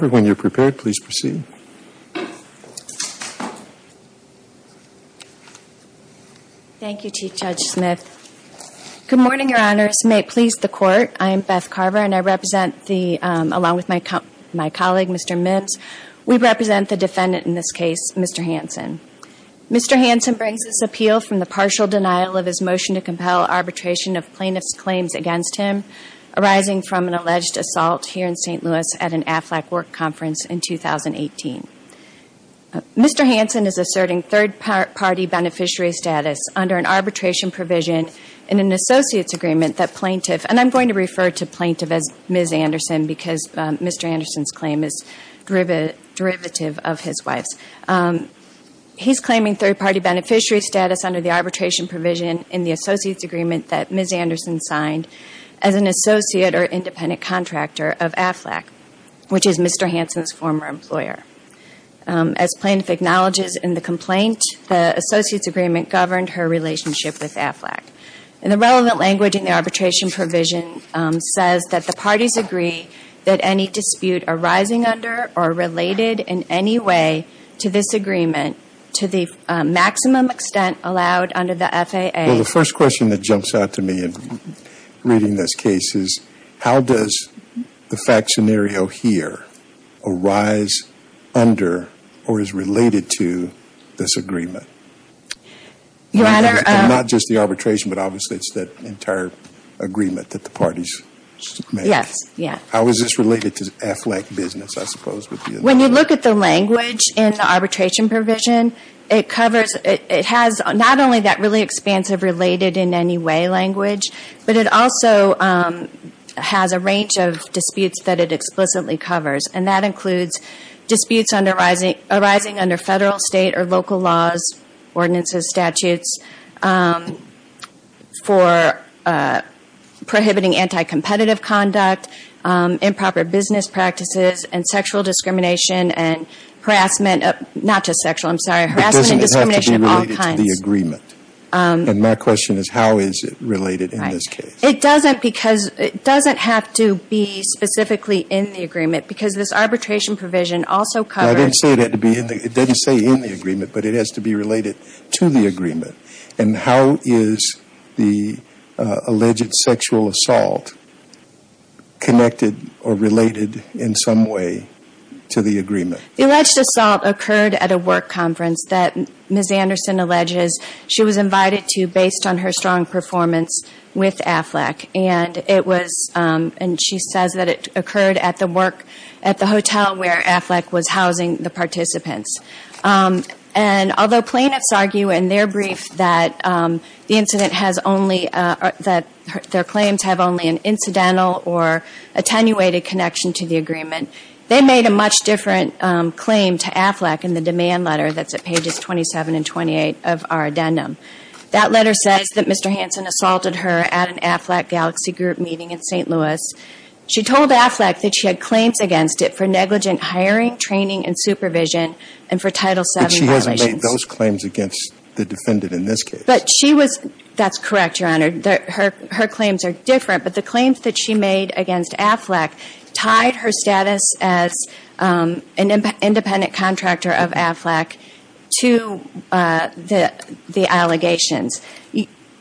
Mr. Hansen brings this appeal from the partial denial of his motion to compel arbitration of plaintiff's claims against him arising from an alleged assault here in St. Louis at an AFLAC work conference in 2018. Mr. Hansen is asserting third-party beneficiary status under an arbitration provision in an associates agreement that plaintiff, and I'm going to refer to plaintiff as Ms. Anderson because Mr. Anderson's claim is derivative of his wife's. He's claiming third-party beneficiary status under the arbitration provision in the associates agreement that Ms. Anderson signed as an associate or independent contractor of AFLAC, which is Mr. Hansen's former employer. As plaintiff acknowledges in the complaint, the associates agreement governed her relationship with AFLAC. And the relevant language in the arbitration provision says that the parties agree that any dispute arising under or related in any way to this agreement to the maximum extent allowed under the FAA. Jeffrey Hansen Well, the first question that jumps out to me in reading this case is how does the fact scenario here arise under or is related to this agreement? And not just the arbitration, but obviously it's that entire agreement that the parties submit. Ms. Anderson Yes, yes. Jeffrey Hansen How is this related to AFLAC business I suppose would be a... Ms. Anderson When you look at the language in the arbitration provision, it covers... It has not only that really expansive related in any way language, but it also has a range of disputes that it explicitly covers. And that includes disputes arising under federal, state, or local laws, ordinances, statutes for prohibiting anti-competitive conduct, improper business practices, and sexual discrimination and harassment, not just sexual, I'm sorry, harassment and discrimination of all kinds. Jeffrey Hansen It doesn't have to be related to the agreement. And my question is how is it related in this case? Ms. Anderson It doesn't because it doesn't have to be specifically in the agreement because this arbitration provision also covers... Jeffrey Hansen I didn't say it had to be in the agreement, but it has to be related to the agreement. And how is the alleged sexual assault connected or related in some way to the agreement? Ms. Anderson The alleged assault occurred at a work conference that Ms. Anderson alleges she was invited to based on her strong performance with AFLAC. And she says that it occurred at the work, at the hotel where AFLAC was housing the participants. And although plaintiffs argue in their brief that the incident has only, that their claims have only an incidental or attenuated connection to the agreement, they made a much different claim to AFLAC in the demand letter that's at pages 27 and 28 of our addendum. That letter says that Mr. Hansen assaulted her at an AFLAC galaxy group meeting in St. Louis. She told AFLAC that she had claims against it for negligent hiring, training, and supervision, and for Title VII violations. Mr. Hansen But she hasn't made those claims against the defendant in this case. Ms. Anderson But she was, that's correct, Your Honor. Her claims are different, but the claims that she made against AFLAC tied her status as an independent contractor of AFLAC to the allegations.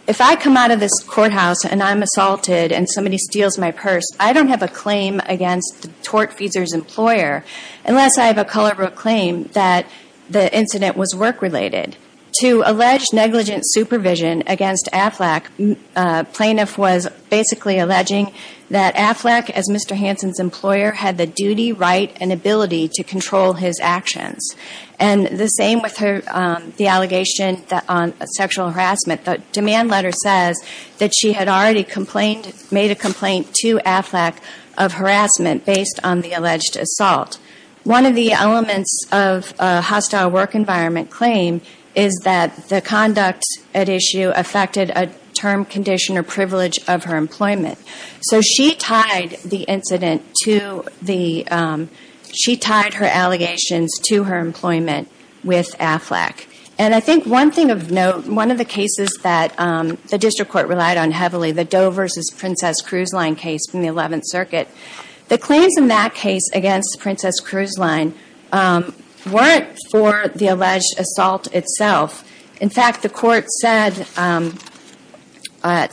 If I come out of this courthouse and I'm assaulted and somebody steals my purse, I don't have a claim against the tortfeasor's employer unless I have a color of a claim that the incident was work-related. To allege negligent supervision against AFLAC, plaintiff was basically alleging that AFLAC, as Mr. Hansen's employer, had the duty, right, and ability to control his actions. And the same with her, the allegation on sexual harassment. The demand letter says that she had already complained, made a complaint to AFLAC of harassment based on the alleged assault. One of the elements of a hostile work environment claim is that the conduct at issue affected a term, condition, or privilege of her employment. So she tied the incident to the, she tied her allegations to her employment with AFLAC. And I think one thing of note, one of the cases that the district court relied on heavily, the Doe versus Princess Cruise Line case from the 11th Circuit. The claims in that case against Princess Cruise Line weren't for the alleged assault itself. In fact, the court said at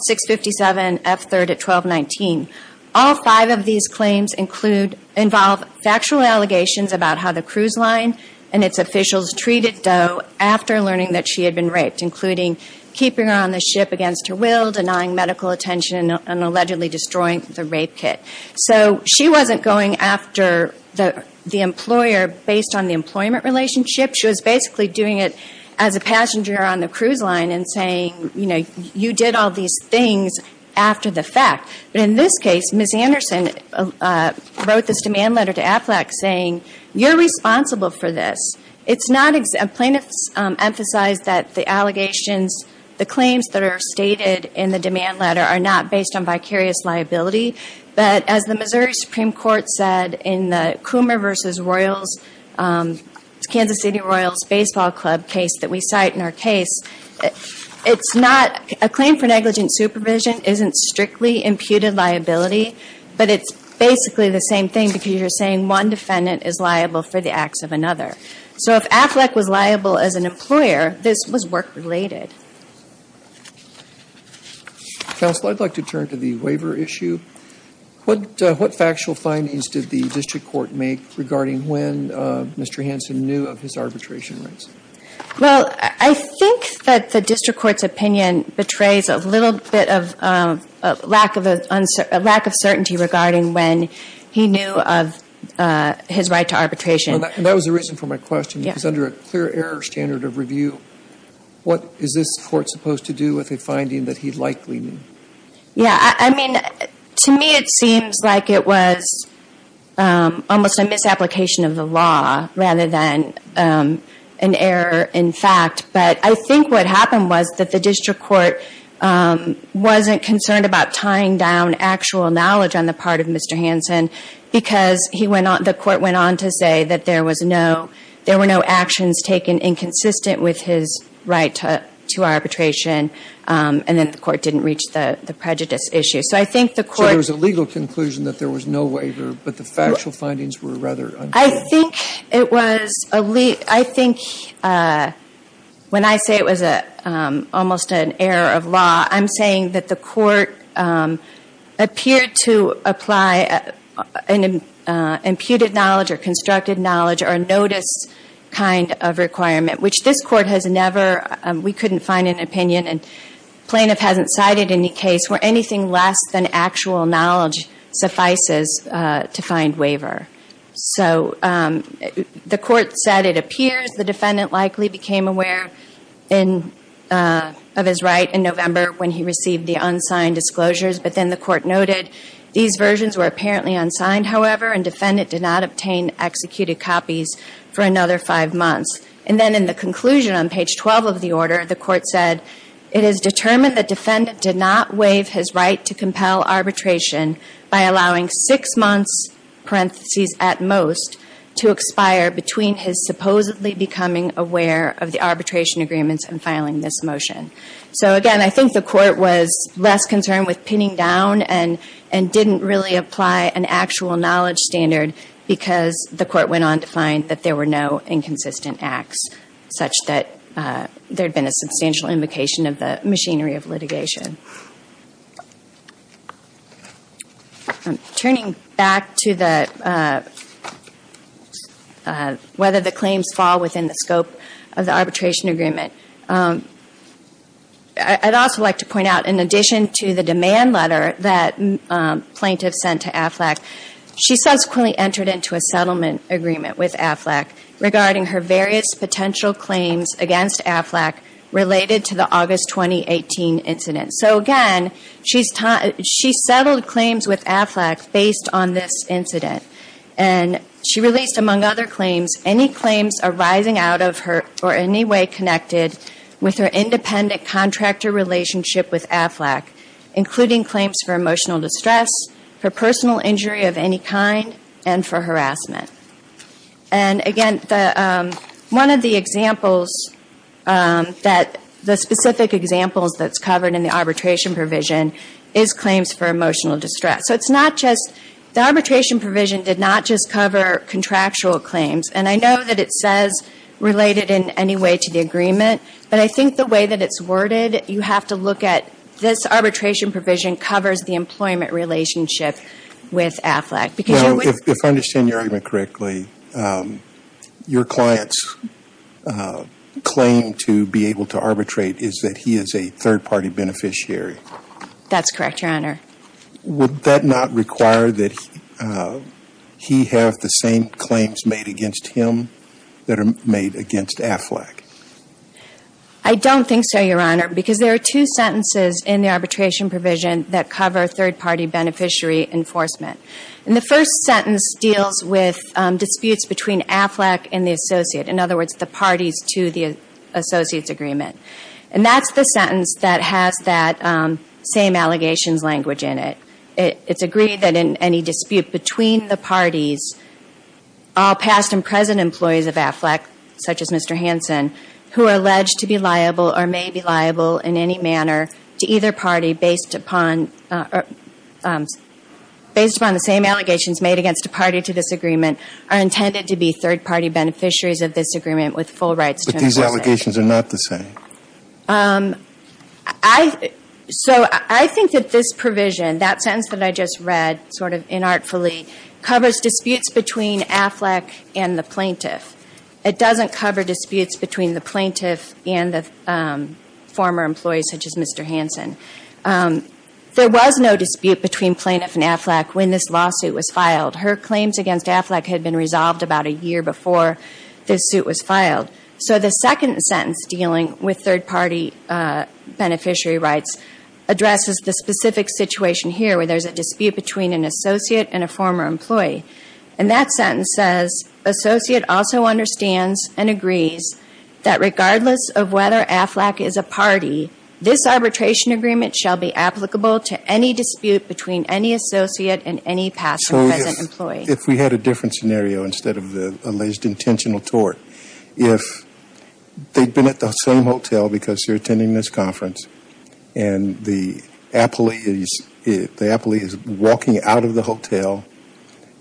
657 F3rd at 1219, all five of these claims include, involve factual allegations about how the cruise line and its officials treated Doe after learning that she had been raped, including keeping her on the ship against her will, denying medical attention, and allegedly destroying the rape kit. So she wasn't going after the employer based on the employment relationship. She was basically doing it as a passenger on the cruise line and saying, you know, you did all these things after the fact. But in this case, Ms. Anderson wrote this demand letter to AFLAC saying, you're responsible for this. It's not, plaintiffs emphasize that the allegations, the claims that are stated in the demand letter are not based on vicarious liability. But as the Missouri Supreme Court said in the Coomer versus Royals, Kansas City Royals baseball club case that we cite in our case, it's not, a claim for negligent supervision isn't strictly imputed liability, but it's basically the same thing because you're saying one defendant is liable for the acts of another. So if AFLAC was liable as an employer, this was work related. Counsel, I'd like to turn to the waiver issue. What factual findings did the district court make regarding when Mr. Hanson knew of his arbitration rights? Well, I think that the district court's opinion betrays a little bit of lack of uncertainty regarding when he knew of his right to arbitration. And that was the reason for my question, because under a clear error standard of review, what is this court supposed to do with a finding that he'd likely knew? Yeah, I mean, to me it seems like it was almost a misapplication of the law, rather than an error in fact. But I think what happened was that the district court wasn't concerned about tying down actual knowledge on the part of Mr. Hanson, because the court went on to say that there were no actions taken inconsistent with his right to arbitration, and that the court didn't reach the prejudice issue. So I think the court- So there was a legal conclusion that there was no waiver, but the factual findings were rather unclear. I think when I say it was almost an error of law, I'm saying that the court appeared to apply an imputed knowledge or constructed knowledge or notice kind of requirement, which this court has never, we couldn't find an opinion. And the plaintiff hasn't cited any case where anything less than actual knowledge suffices to find waiver. So the court said it appears the defendant likely became aware of his right in November when he received the unsigned disclosures, but then the court noted, these versions were apparently unsigned, however, and defendant did not obtain executed copies for another five months. And then in the conclusion on page 12 of the order, the court said, it is determined the defendant did not waive his right to compel arbitration by allowing six months parentheses at most to expire between his supposedly becoming aware of the arbitration agreements and filing this motion. So again, I think the court was less concerned with pinning down and didn't really apply an actual knowledge standard because the court went on to find that there were no inconsistent acts such that there had been a substantial invocation of the machinery of litigation. Turning back to the, whether the claims fall within the scope of the arbitration agreement, I'd also like to point out, in addition to the demand letter that plaintiff sent to AFLAC, she subsequently entered into a settlement agreement with AFLAC regarding her various potential claims against AFLAC related to the August 2018 incident. So again, she settled claims with AFLAC based on this incident. And she released, among other claims, any claims arising out of her or in any way connected with her independent contractor relationship with AFLAC, including claims for emotional distress, for personal injury of any kind, and for harassment. And again, one of the examples that, the specific examples that's covered in the arbitration provision is claims for emotional distress. So it's not just, the arbitration provision did not just cover contractual claims. And I know that it says related in any way to the agreement, but I think the way that it's worded, you have to look at, this arbitration provision covers the employment relationship with AFLAC. Because you would. If I understand your argument correctly, your client's claim to be able to arbitrate is that he is a third-party beneficiary. That's correct, Your Honor. Would that not require that he have the same claims made against him that are made against AFLAC? I don't think so, Your Honor, because there are two sentences in the arbitration provision that cover third-party beneficiary enforcement. And the first sentence deals with disputes between AFLAC and the associate. In other words, the parties to the associate's agreement. And that's the sentence that has that same allegations language in it. It's agreed that in any dispute between the parties, all past and present employees of AFLAC, such as Mr. Hanson, who are alleged to be liable or may be liable in any manner to either party based upon the same allegations made against a party to this agreement, are intended to be third-party beneficiaries of this agreement with full rights to enforcement. These allegations are not the same. So I think that this provision, that sentence that I just read sort of inartfully, covers disputes between AFLAC and the plaintiff. It doesn't cover disputes between the plaintiff and the former employee, such as Mr. Hanson. There was no dispute between plaintiff and AFLAC when this lawsuit was filed. Her claims against AFLAC had been resolved about a year before this suit was filed. So the second sentence dealing with third-party beneficiary rights addresses the specific situation here where there's a dispute between an associate and a former employee. And that sentence says, associate also understands and agrees that regardless of whether AFLAC is a party, this arbitration agreement shall be applicable to any dispute between any associate and any past or present employee. If we had a different scenario instead of the alleged intentional tort, if they'd been at the same hotel because they're attending this conference and the appellee is walking out of the hotel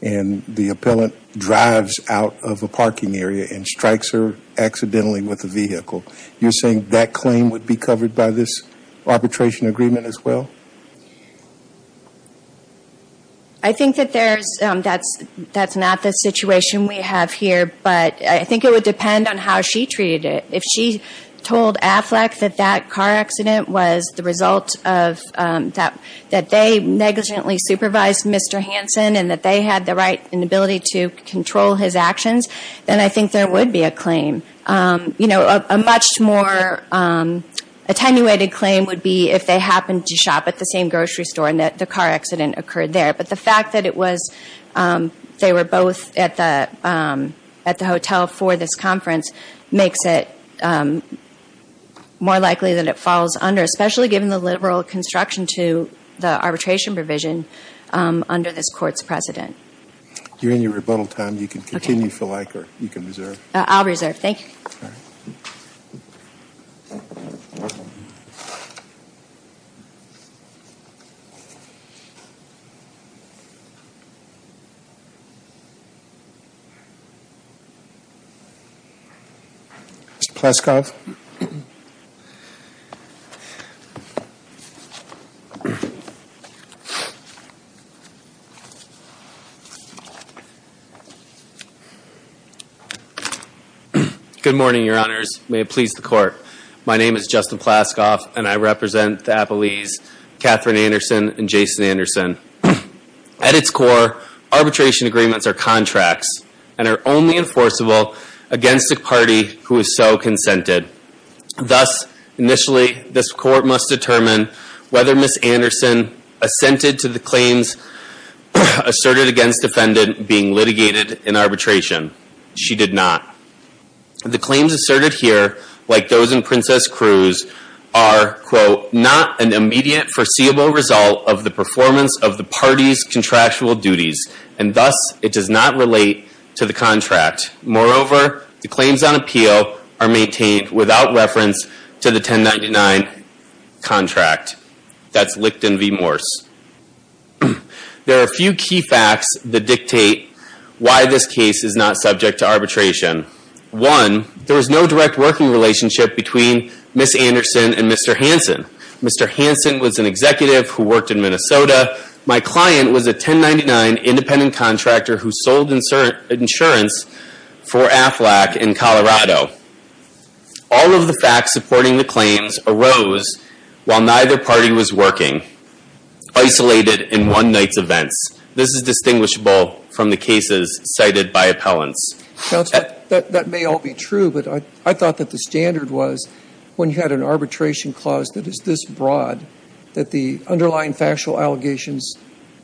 and the appellant drives out of a parking area and strikes her accidentally with a vehicle, you're saying that claim would be covered by this arbitration agreement as well? I think that there's, that's not the situation we have here, but I think it would depend on how she treated it. If she told AFLAC that that car accident was the result of, that they negligently supervised Mr. Hanson and that they had the right and ability to control his actions, then I think there would be a claim. You know, a much more attenuated claim would be if they happened to shop at the same grocery store and that the car accident occurred there. But the fact that it was, they were both at the hotel for this conference makes it more likely that it falls under, especially given the liberal construction to the arbitration provision under this court's precedent. During your rebuttal time, you can continue if you like or you can reserve. I'll reserve. Thank you. Mr. Pleskov. Good morning, your honors. May it please the court. My name is Justin Pleskov and I represent the Appalese, Katherine Anderson and Jason Anderson. At its core, arbitration agreements are contracts and are only enforceable against a party who is so consented. Thus, initially, this court must determine whether Ms. Anderson assented to the claims asserted against defendant being litigated in arbitration. She did not. The claims asserted here, like those in Princess Cruz, are, quote, not an immediate foreseeable result of the performance of the party's contractual duties. And thus, it does not relate to the contract. Moreover, the claims on appeal are maintained without reference to the 1099 contract. That's Licton v. Morse. There are a few key facts that dictate why this case is not subject to arbitration. One, there is no direct working relationship between Ms. Anderson and Mr. Hansen. Mr. Hansen was an executive who worked in Minnesota. My client was a 1099 independent contractor who sold insurance for Aflac in Colorado. All of the facts supporting the claims arose while neither party was working. Isolated in one night's events. This is distinguishable from the cases cited by appellants. Counsel, that may all be true, but I thought that the standard was, when you had an arbitration clause that is this broad, that the underlying factual allegations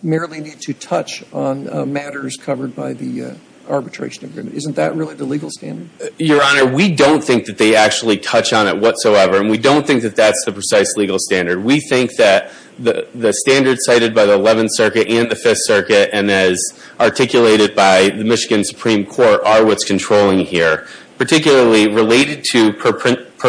merely need to touch on matters covered by the arbitration agreement. Isn't that really the legal standard? Your Honor, we don't think that they actually touch on it whatsoever. And we don't think that that's the precise legal standard. We think that the standards cited by the 11th Circuit and the 5th Circuit, and as articulated by the Michigan Supreme Court, are what's controlling here. Particularly related to per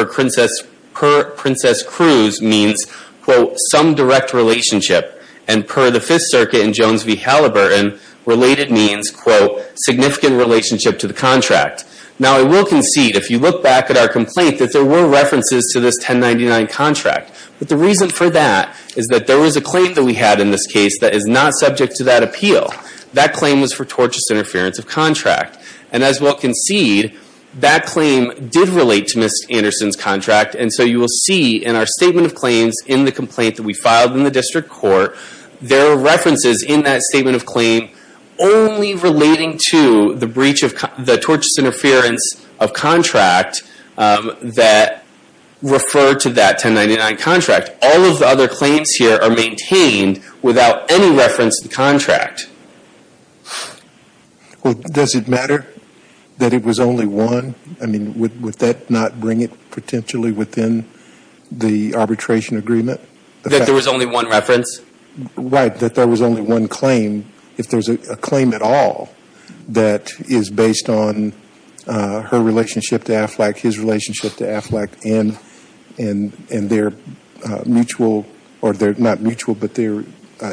Princess Cruz means, quote, some direct relationship. And per the 5th Circuit in Jones v. Halliburton, related means, quote, significant relationship to the contract. Now I will concede, if you look back at our complaint, that there were references to this 1099 contract. But the reason for that is that there was a claim that we had in this case that is not subject to that appeal. That claim was for tortious interference of contract. And as well concede, that claim did relate to Ms. Anderson's contract. And so you will see in our statement of claims, in the complaint that we filed in the district court, there are references in that statement of claim only relating to the breach of, the tortious interference of contract that referred to that 1099 contract. All of the other claims here are maintained without any reference to the contract. Well, does it matter that it was only one? I mean, would that not bring it potentially within the arbitration agreement? That there was only one reference? Right, that there was only one claim. If there's a claim at all that is based on her relationship to Aflac, his relationship to Aflac, and their mutual, or they're not mutual, but their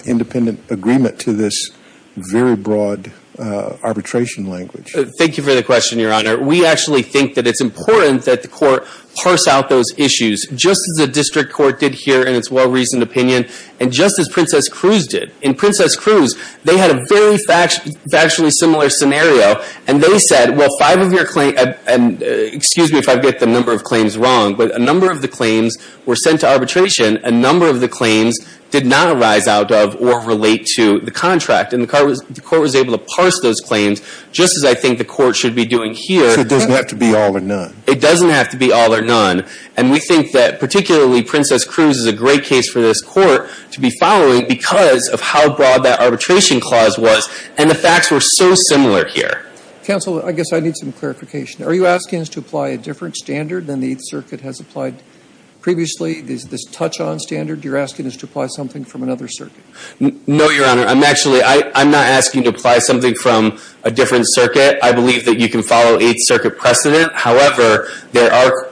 independent agreement to this very broad arbitration language. Thank you for the question, Your Honor. We actually think that it's important that the court parse out those issues, just as the district court did here in its well-reasoned opinion, and just as Princess Cruz did. In Princess Cruz, they had a very factually similar scenario, and they said, well, five of your claims, and excuse me if I get the number of claims wrong, but a number of the claims were sent to arbitration, a number of the claims did not arise out of or relate to the contract. And the court was able to parse those claims, just as I think the court should be doing here. So it doesn't have to be all or none. It doesn't have to be all or none. And we think that particularly Princess Cruz is a great case for this court to be following, because of how broad that arbitration clause was. And the facts were so similar here. Counsel, I guess I need some clarification. Are you asking us to apply a different standard than the Eighth Circuit has applied previously, this touch-on standard? You're asking us to apply something from another circuit? No, Your Honor. I'm actually, I'm not asking you to apply something from a different circuit. I believe that you can follow Eighth Circuit precedent. However, there are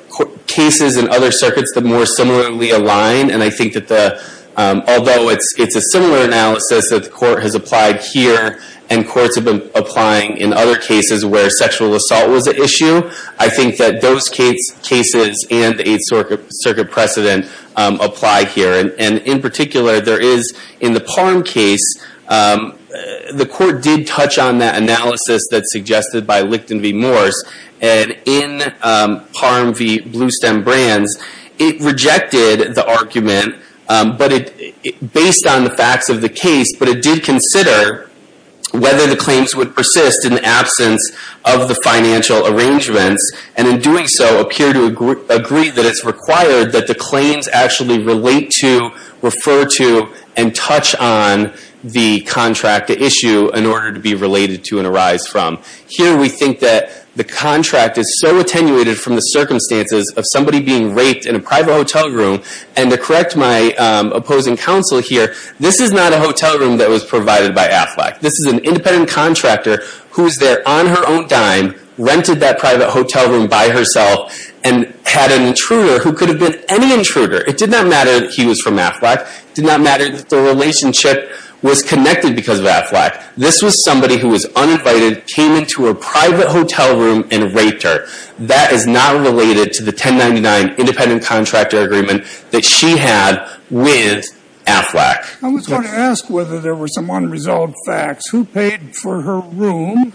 cases in other circuits that more similarly align, and I think that the, although it's a similar analysis that the court has applied here, and courts have been applying in other cases where sexual assault was an issue. I think that those cases and the Eighth Circuit precedent apply here. And in particular, there is, in the Palm case, the court did touch on that analysis that's suggested by Lichten v. But it, based on the facts of the case, but it did consider whether the claims would persist in the absence of the financial arrangements, and in doing so, appear to agree that it's required that the claims actually relate to, refer to, and touch on the contract issue in order to be related to and arise from. Here we think that the contract is so attenuated from the circumstances of somebody being raped in a private hotel room, and to correct my opposing counsel here, this is not a hotel room that was provided by Aflac. This is an independent contractor who was there on her own dime, rented that private hotel room by herself, and had an intruder who could have been any intruder. It did not matter that he was from Aflac. It did not matter that the relationship was connected because of Aflac. This was somebody who was uninvited, came into a private hotel room, and raped her. That is not related to the 1099 independent contractor agreement that she had with Aflac. I was going to ask whether there were some unresolved facts. Who paid for her room?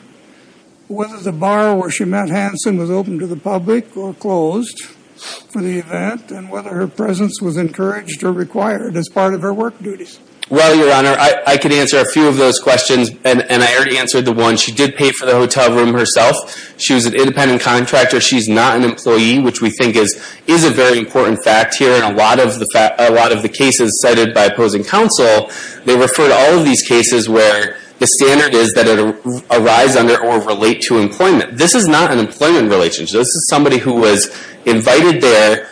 Whether the bar where she met Hanson was open to the public or closed for the event, and whether her presence was encouraged or required as part of her work duties? Well, Your Honor, I could answer a few of those questions, and I already answered the one. She did pay for the hotel room herself. She was an independent contractor. She's not an employee, which we think is a very important fact here. In a lot of the cases cited by opposing counsel, they refer to all of these cases where the standard is that it arise under or relate to employment. This is not an employment relationship. This is somebody who was invited there,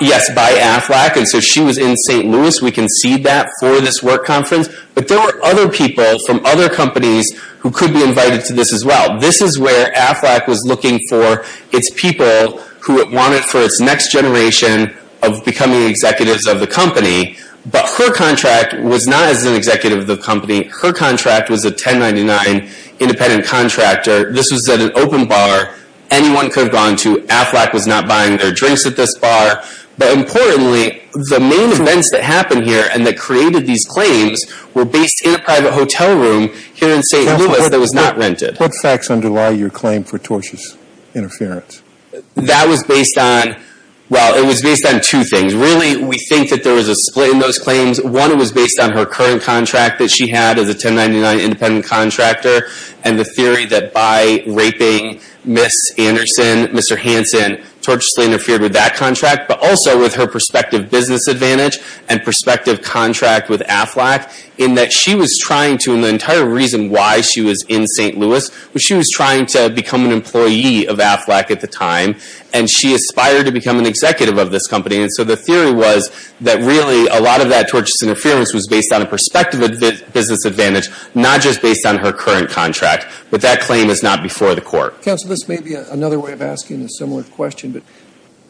yes, by Aflac, and so she was in St. Louis. We can see that for this work conference. But there were other people from other companies who could be invited to this as well. This is where Aflac was looking for its people who it wanted for its next generation of becoming executives of the company, but her contract was not as an executive of the company. Her contract was a 1099 independent contractor. This was at an open bar. Anyone could have gone to. Aflac was not buying their drinks at this bar. But importantly, the main events that happened here and that created these claims were based in a private hotel room here in St. Louis that was not rented. What facts underlie your claim for tortious interference? That was based on, well, it was based on two things. Really, we think that there was a split in those claims. One, it was based on her current contract that she had as a 1099 independent contractor and the theory that by raping Ms. Anderson, Mr. Hanson, tortiously interfered with that contract, but also with her prospective business advantage and prospective contract with Aflac in that she was trying to, and the entire reason why she was in St. Louis was she was trying to become an employee of Aflac at the time, and she aspired to become an executive of this company. And so the theory was that really a lot of that tortious interference was based on a prospective business advantage, not just based on her current contract. But that claim is not before the court. Counsel, this may be another way of asking a similar question, but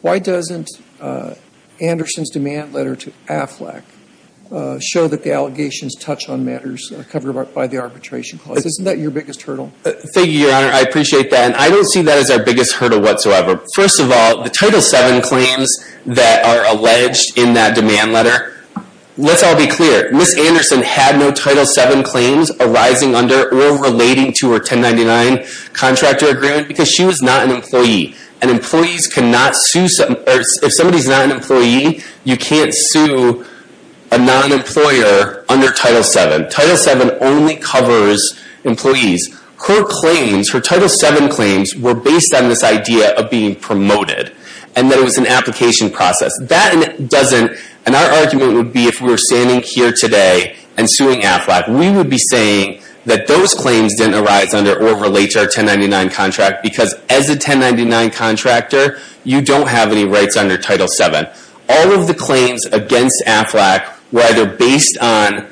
why doesn't Anderson's demand letter to Aflac show that the allegations touch on matters covered by the arbitration clause? Isn't that your biggest hurdle? Thank you, Your Honor. I appreciate that, and I don't see that as our biggest hurdle whatsoever. First of all, the Title VII claims that are alleged in that demand letter, let's all be clear. Ms. Anderson had no Title VII claims arising under or relating to her 1099 contractor agreement because she was not an employee. And employees cannot sue, or if somebody's not an employee, you can't sue a non-employer under Title VII. Title VII only covers employees. Her claims, her Title VII claims, were based on this idea of being promoted, and that it was an application process. That doesn't, and our argument would be if we were standing here today and suing Aflac, we would be saying that those claims didn't arise under or relate to our 1099 contract because as a 1099 contractor, you don't have any rights under Title VII. All of the claims against Aflac were either based on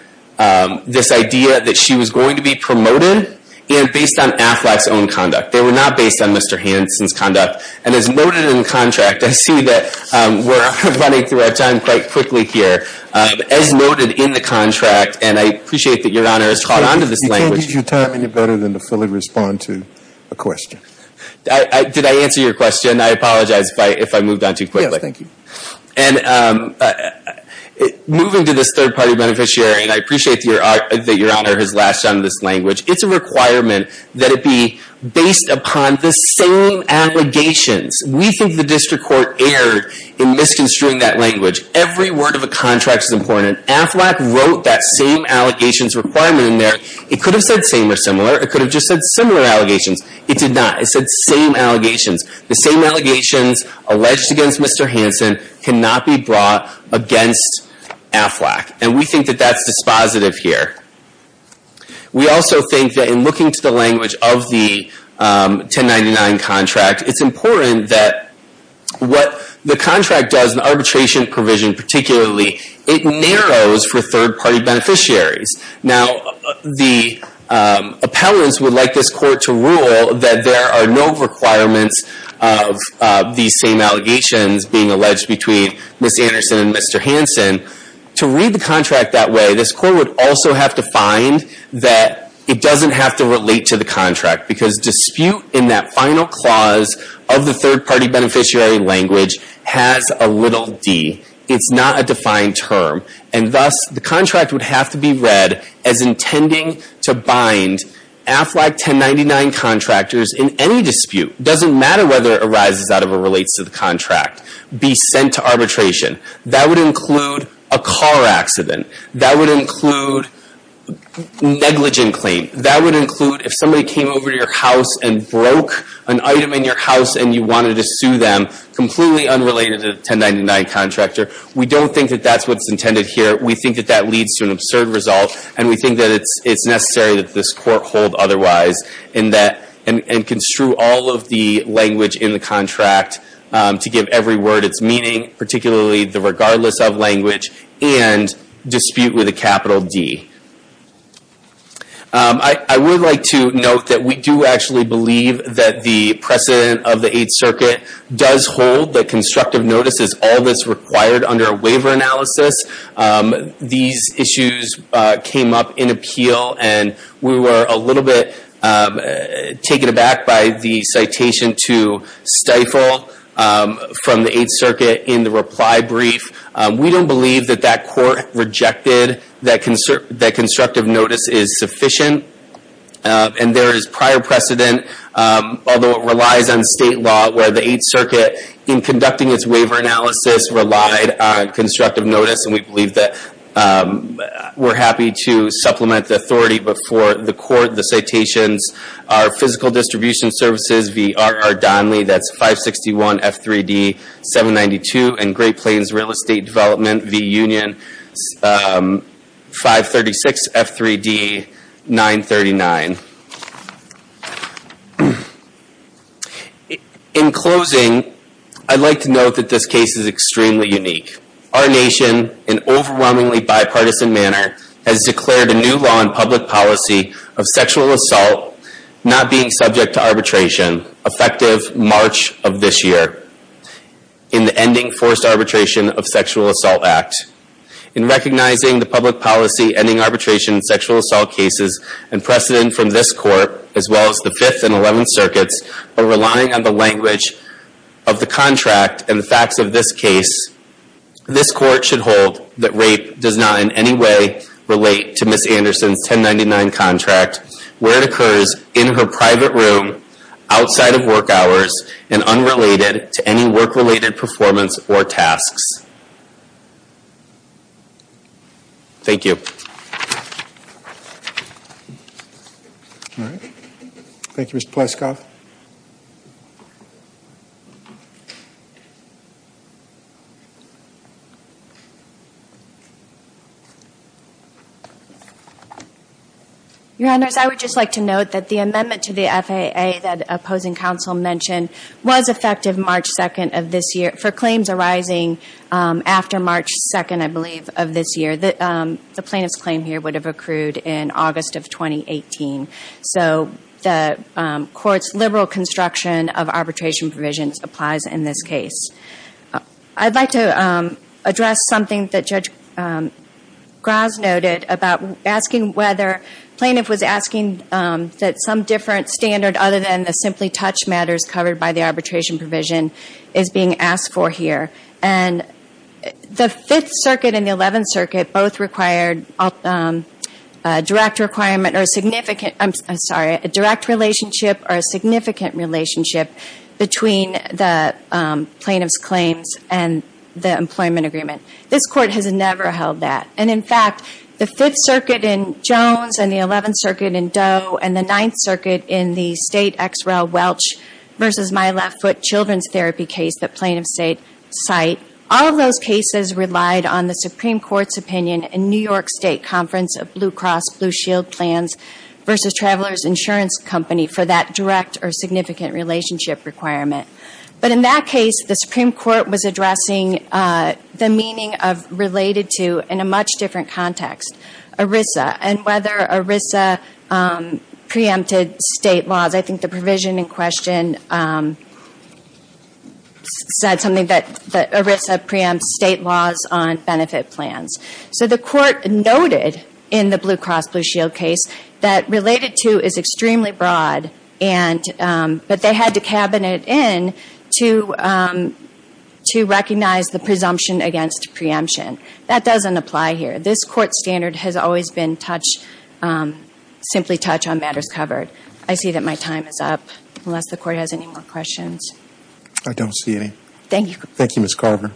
this idea that she was going to be promoted, and based on Aflac's own conduct. They were not based on Mr. Hansen's conduct. And as noted in the contract, I see that we're running through our time quite quickly here. As noted in the contract, and I appreciate that Your Honor has caught on to this language. You can't use your time any better than to fully respond to a question. Did I answer your question? I apologize if I moved on too quickly. Yes, thank you. And moving to this third-party beneficiary, and I appreciate that Your Honor has latched on to this language, it's a requirement that it be based upon the same allegations. We think the district court erred in misconstruing that language. Every word of a contract is important. Aflac wrote that same allegations requirement in there. It could have said same or similar. It could have just said similar allegations. It did not. It said same allegations. The same allegations alleged against Mr. Hansen cannot be brought against Aflac. And we think that that's dispositive here. We also think that in looking to the language of the 1099 contract, it's important that what the contract does, the arbitration provision particularly, it narrows for third-party beneficiaries. Now, the appellants would like this court to rule that there are no requirements of these same allegations being alleged between Ms. Anderson and Mr. Hansen. To read the contract that way, this court would also have to find that it doesn't have to relate to the contract, because dispute in that final clause of the third-party beneficiary language has a little D. It's not a defined term. And thus, the contract would have to be read as intending to bind Aflac 1099 contractors in any dispute. It doesn't matter whether it arises out of or relates to the contract. Be sent to arbitration. That would include a car accident. That would include negligent claim. That would include if somebody came over to your house and broke an item in your house and you wanted to sue them, completely unrelated to the 1099 contractor. We don't think that that's what's intended here. We think that that leads to an absurd result. And we think that it's necessary that this court hold otherwise in that and construe all of the language in the contract to give every word its meaning, particularly the regardless of language, and dispute with a capital D. I would like to note that we do actually believe that the precedent of the Eighth Circuit does hold that constructive notice is all that's required under a waiver analysis. These issues came up in appeal, and we were a little bit taken aback by the citation to stifle from the Eighth Circuit in the reply brief. We don't believe that that court rejected that constructive notice is sufficient. And there is prior precedent, although it relies on state law, where the Eighth Circuit in conducting its waiver analysis relied on constructive notice. And we believe that we're happy to supplement the authority before the court. The citations are Physical Distribution Services v. R.R. Donnelly, that's 561 F3D 792, and Great Plains Real Estate Development v. Union, 536 F3D 939. In closing, I'd like to note that this case is extremely unique. Our nation, in overwhelmingly bipartisan manner, has declared a new law in public policy of sexual assault not being subject to arbitration, effective March of this year, in the Ending Forced Arbitration of Sexual Assault Act. In recognizing the public policy ending arbitration in sexual assault cases and precedent from this court, as well as the Fifth and Eleventh Circuits, while relying on the language of the contract and the facts of this case, this court should hold that rape does not in any way relate to Ms. Anderson's 1099 contract, where it occurs in her private room, outside of work hours, and unrelated to any work-related performance or tasks. Thank you. Thank you, Mr. Pleskov. Your Honors, I would just like to note that the amendment to the FAA that opposing counsel mentioned was effective March 2nd of this year, for claims arising after March 2nd, I believe, of this year. The plaintiff's claim here would have accrued in August of 2018. So the court's liberal construction of arbitration provisions applies in this case. I'd like to address something that Judge Gras noted about asking whether, plaintiff was asking that some different standard other than the simply touch matters covered by the arbitration provision is being asked for here. And the Fifth Circuit and the Eleventh Circuit both required a direct requirement or a significant, I'm sorry, a direct relationship or a significant relationship between the plaintiff's claims and the employment agreement. This court has never held that. And in fact, the Fifth Circuit in Jones and the Eleventh Circuit in Doe and the Ninth Circuit in the state XREL Welch versus my left foot children's therapy case that plaintiffs cite, all of those cases relied on the Supreme Court's opinion in New York State Conference of Blue Cross Blue Shield Plans versus Travelers Insurance Company for that direct or significant relationship requirement. But in that case, the Supreme Court was addressing the meaning of related to in a much different context, ERISA and whether ERISA preempted state laws. I think the provision in question said something that ERISA preempts state laws on benefit plans. So the court noted in the Blue Cross Blue Shield case that related to is extremely broad and that they had to cabinet in to recognize the presumption against preemption. That doesn't apply here. This court standard has always been touch, simply touch on matters covered. I see that my time is up unless the court has any more questions. I don't see any. Thank you. Thank you, Ms. Carver.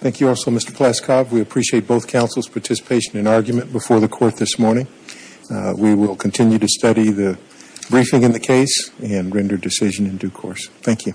Thank you also, Mr. Pleskov. We appreciate both counsel's participation in argument before the court this morning. We will continue to study the briefing in the case and render decision in due course. Thank you.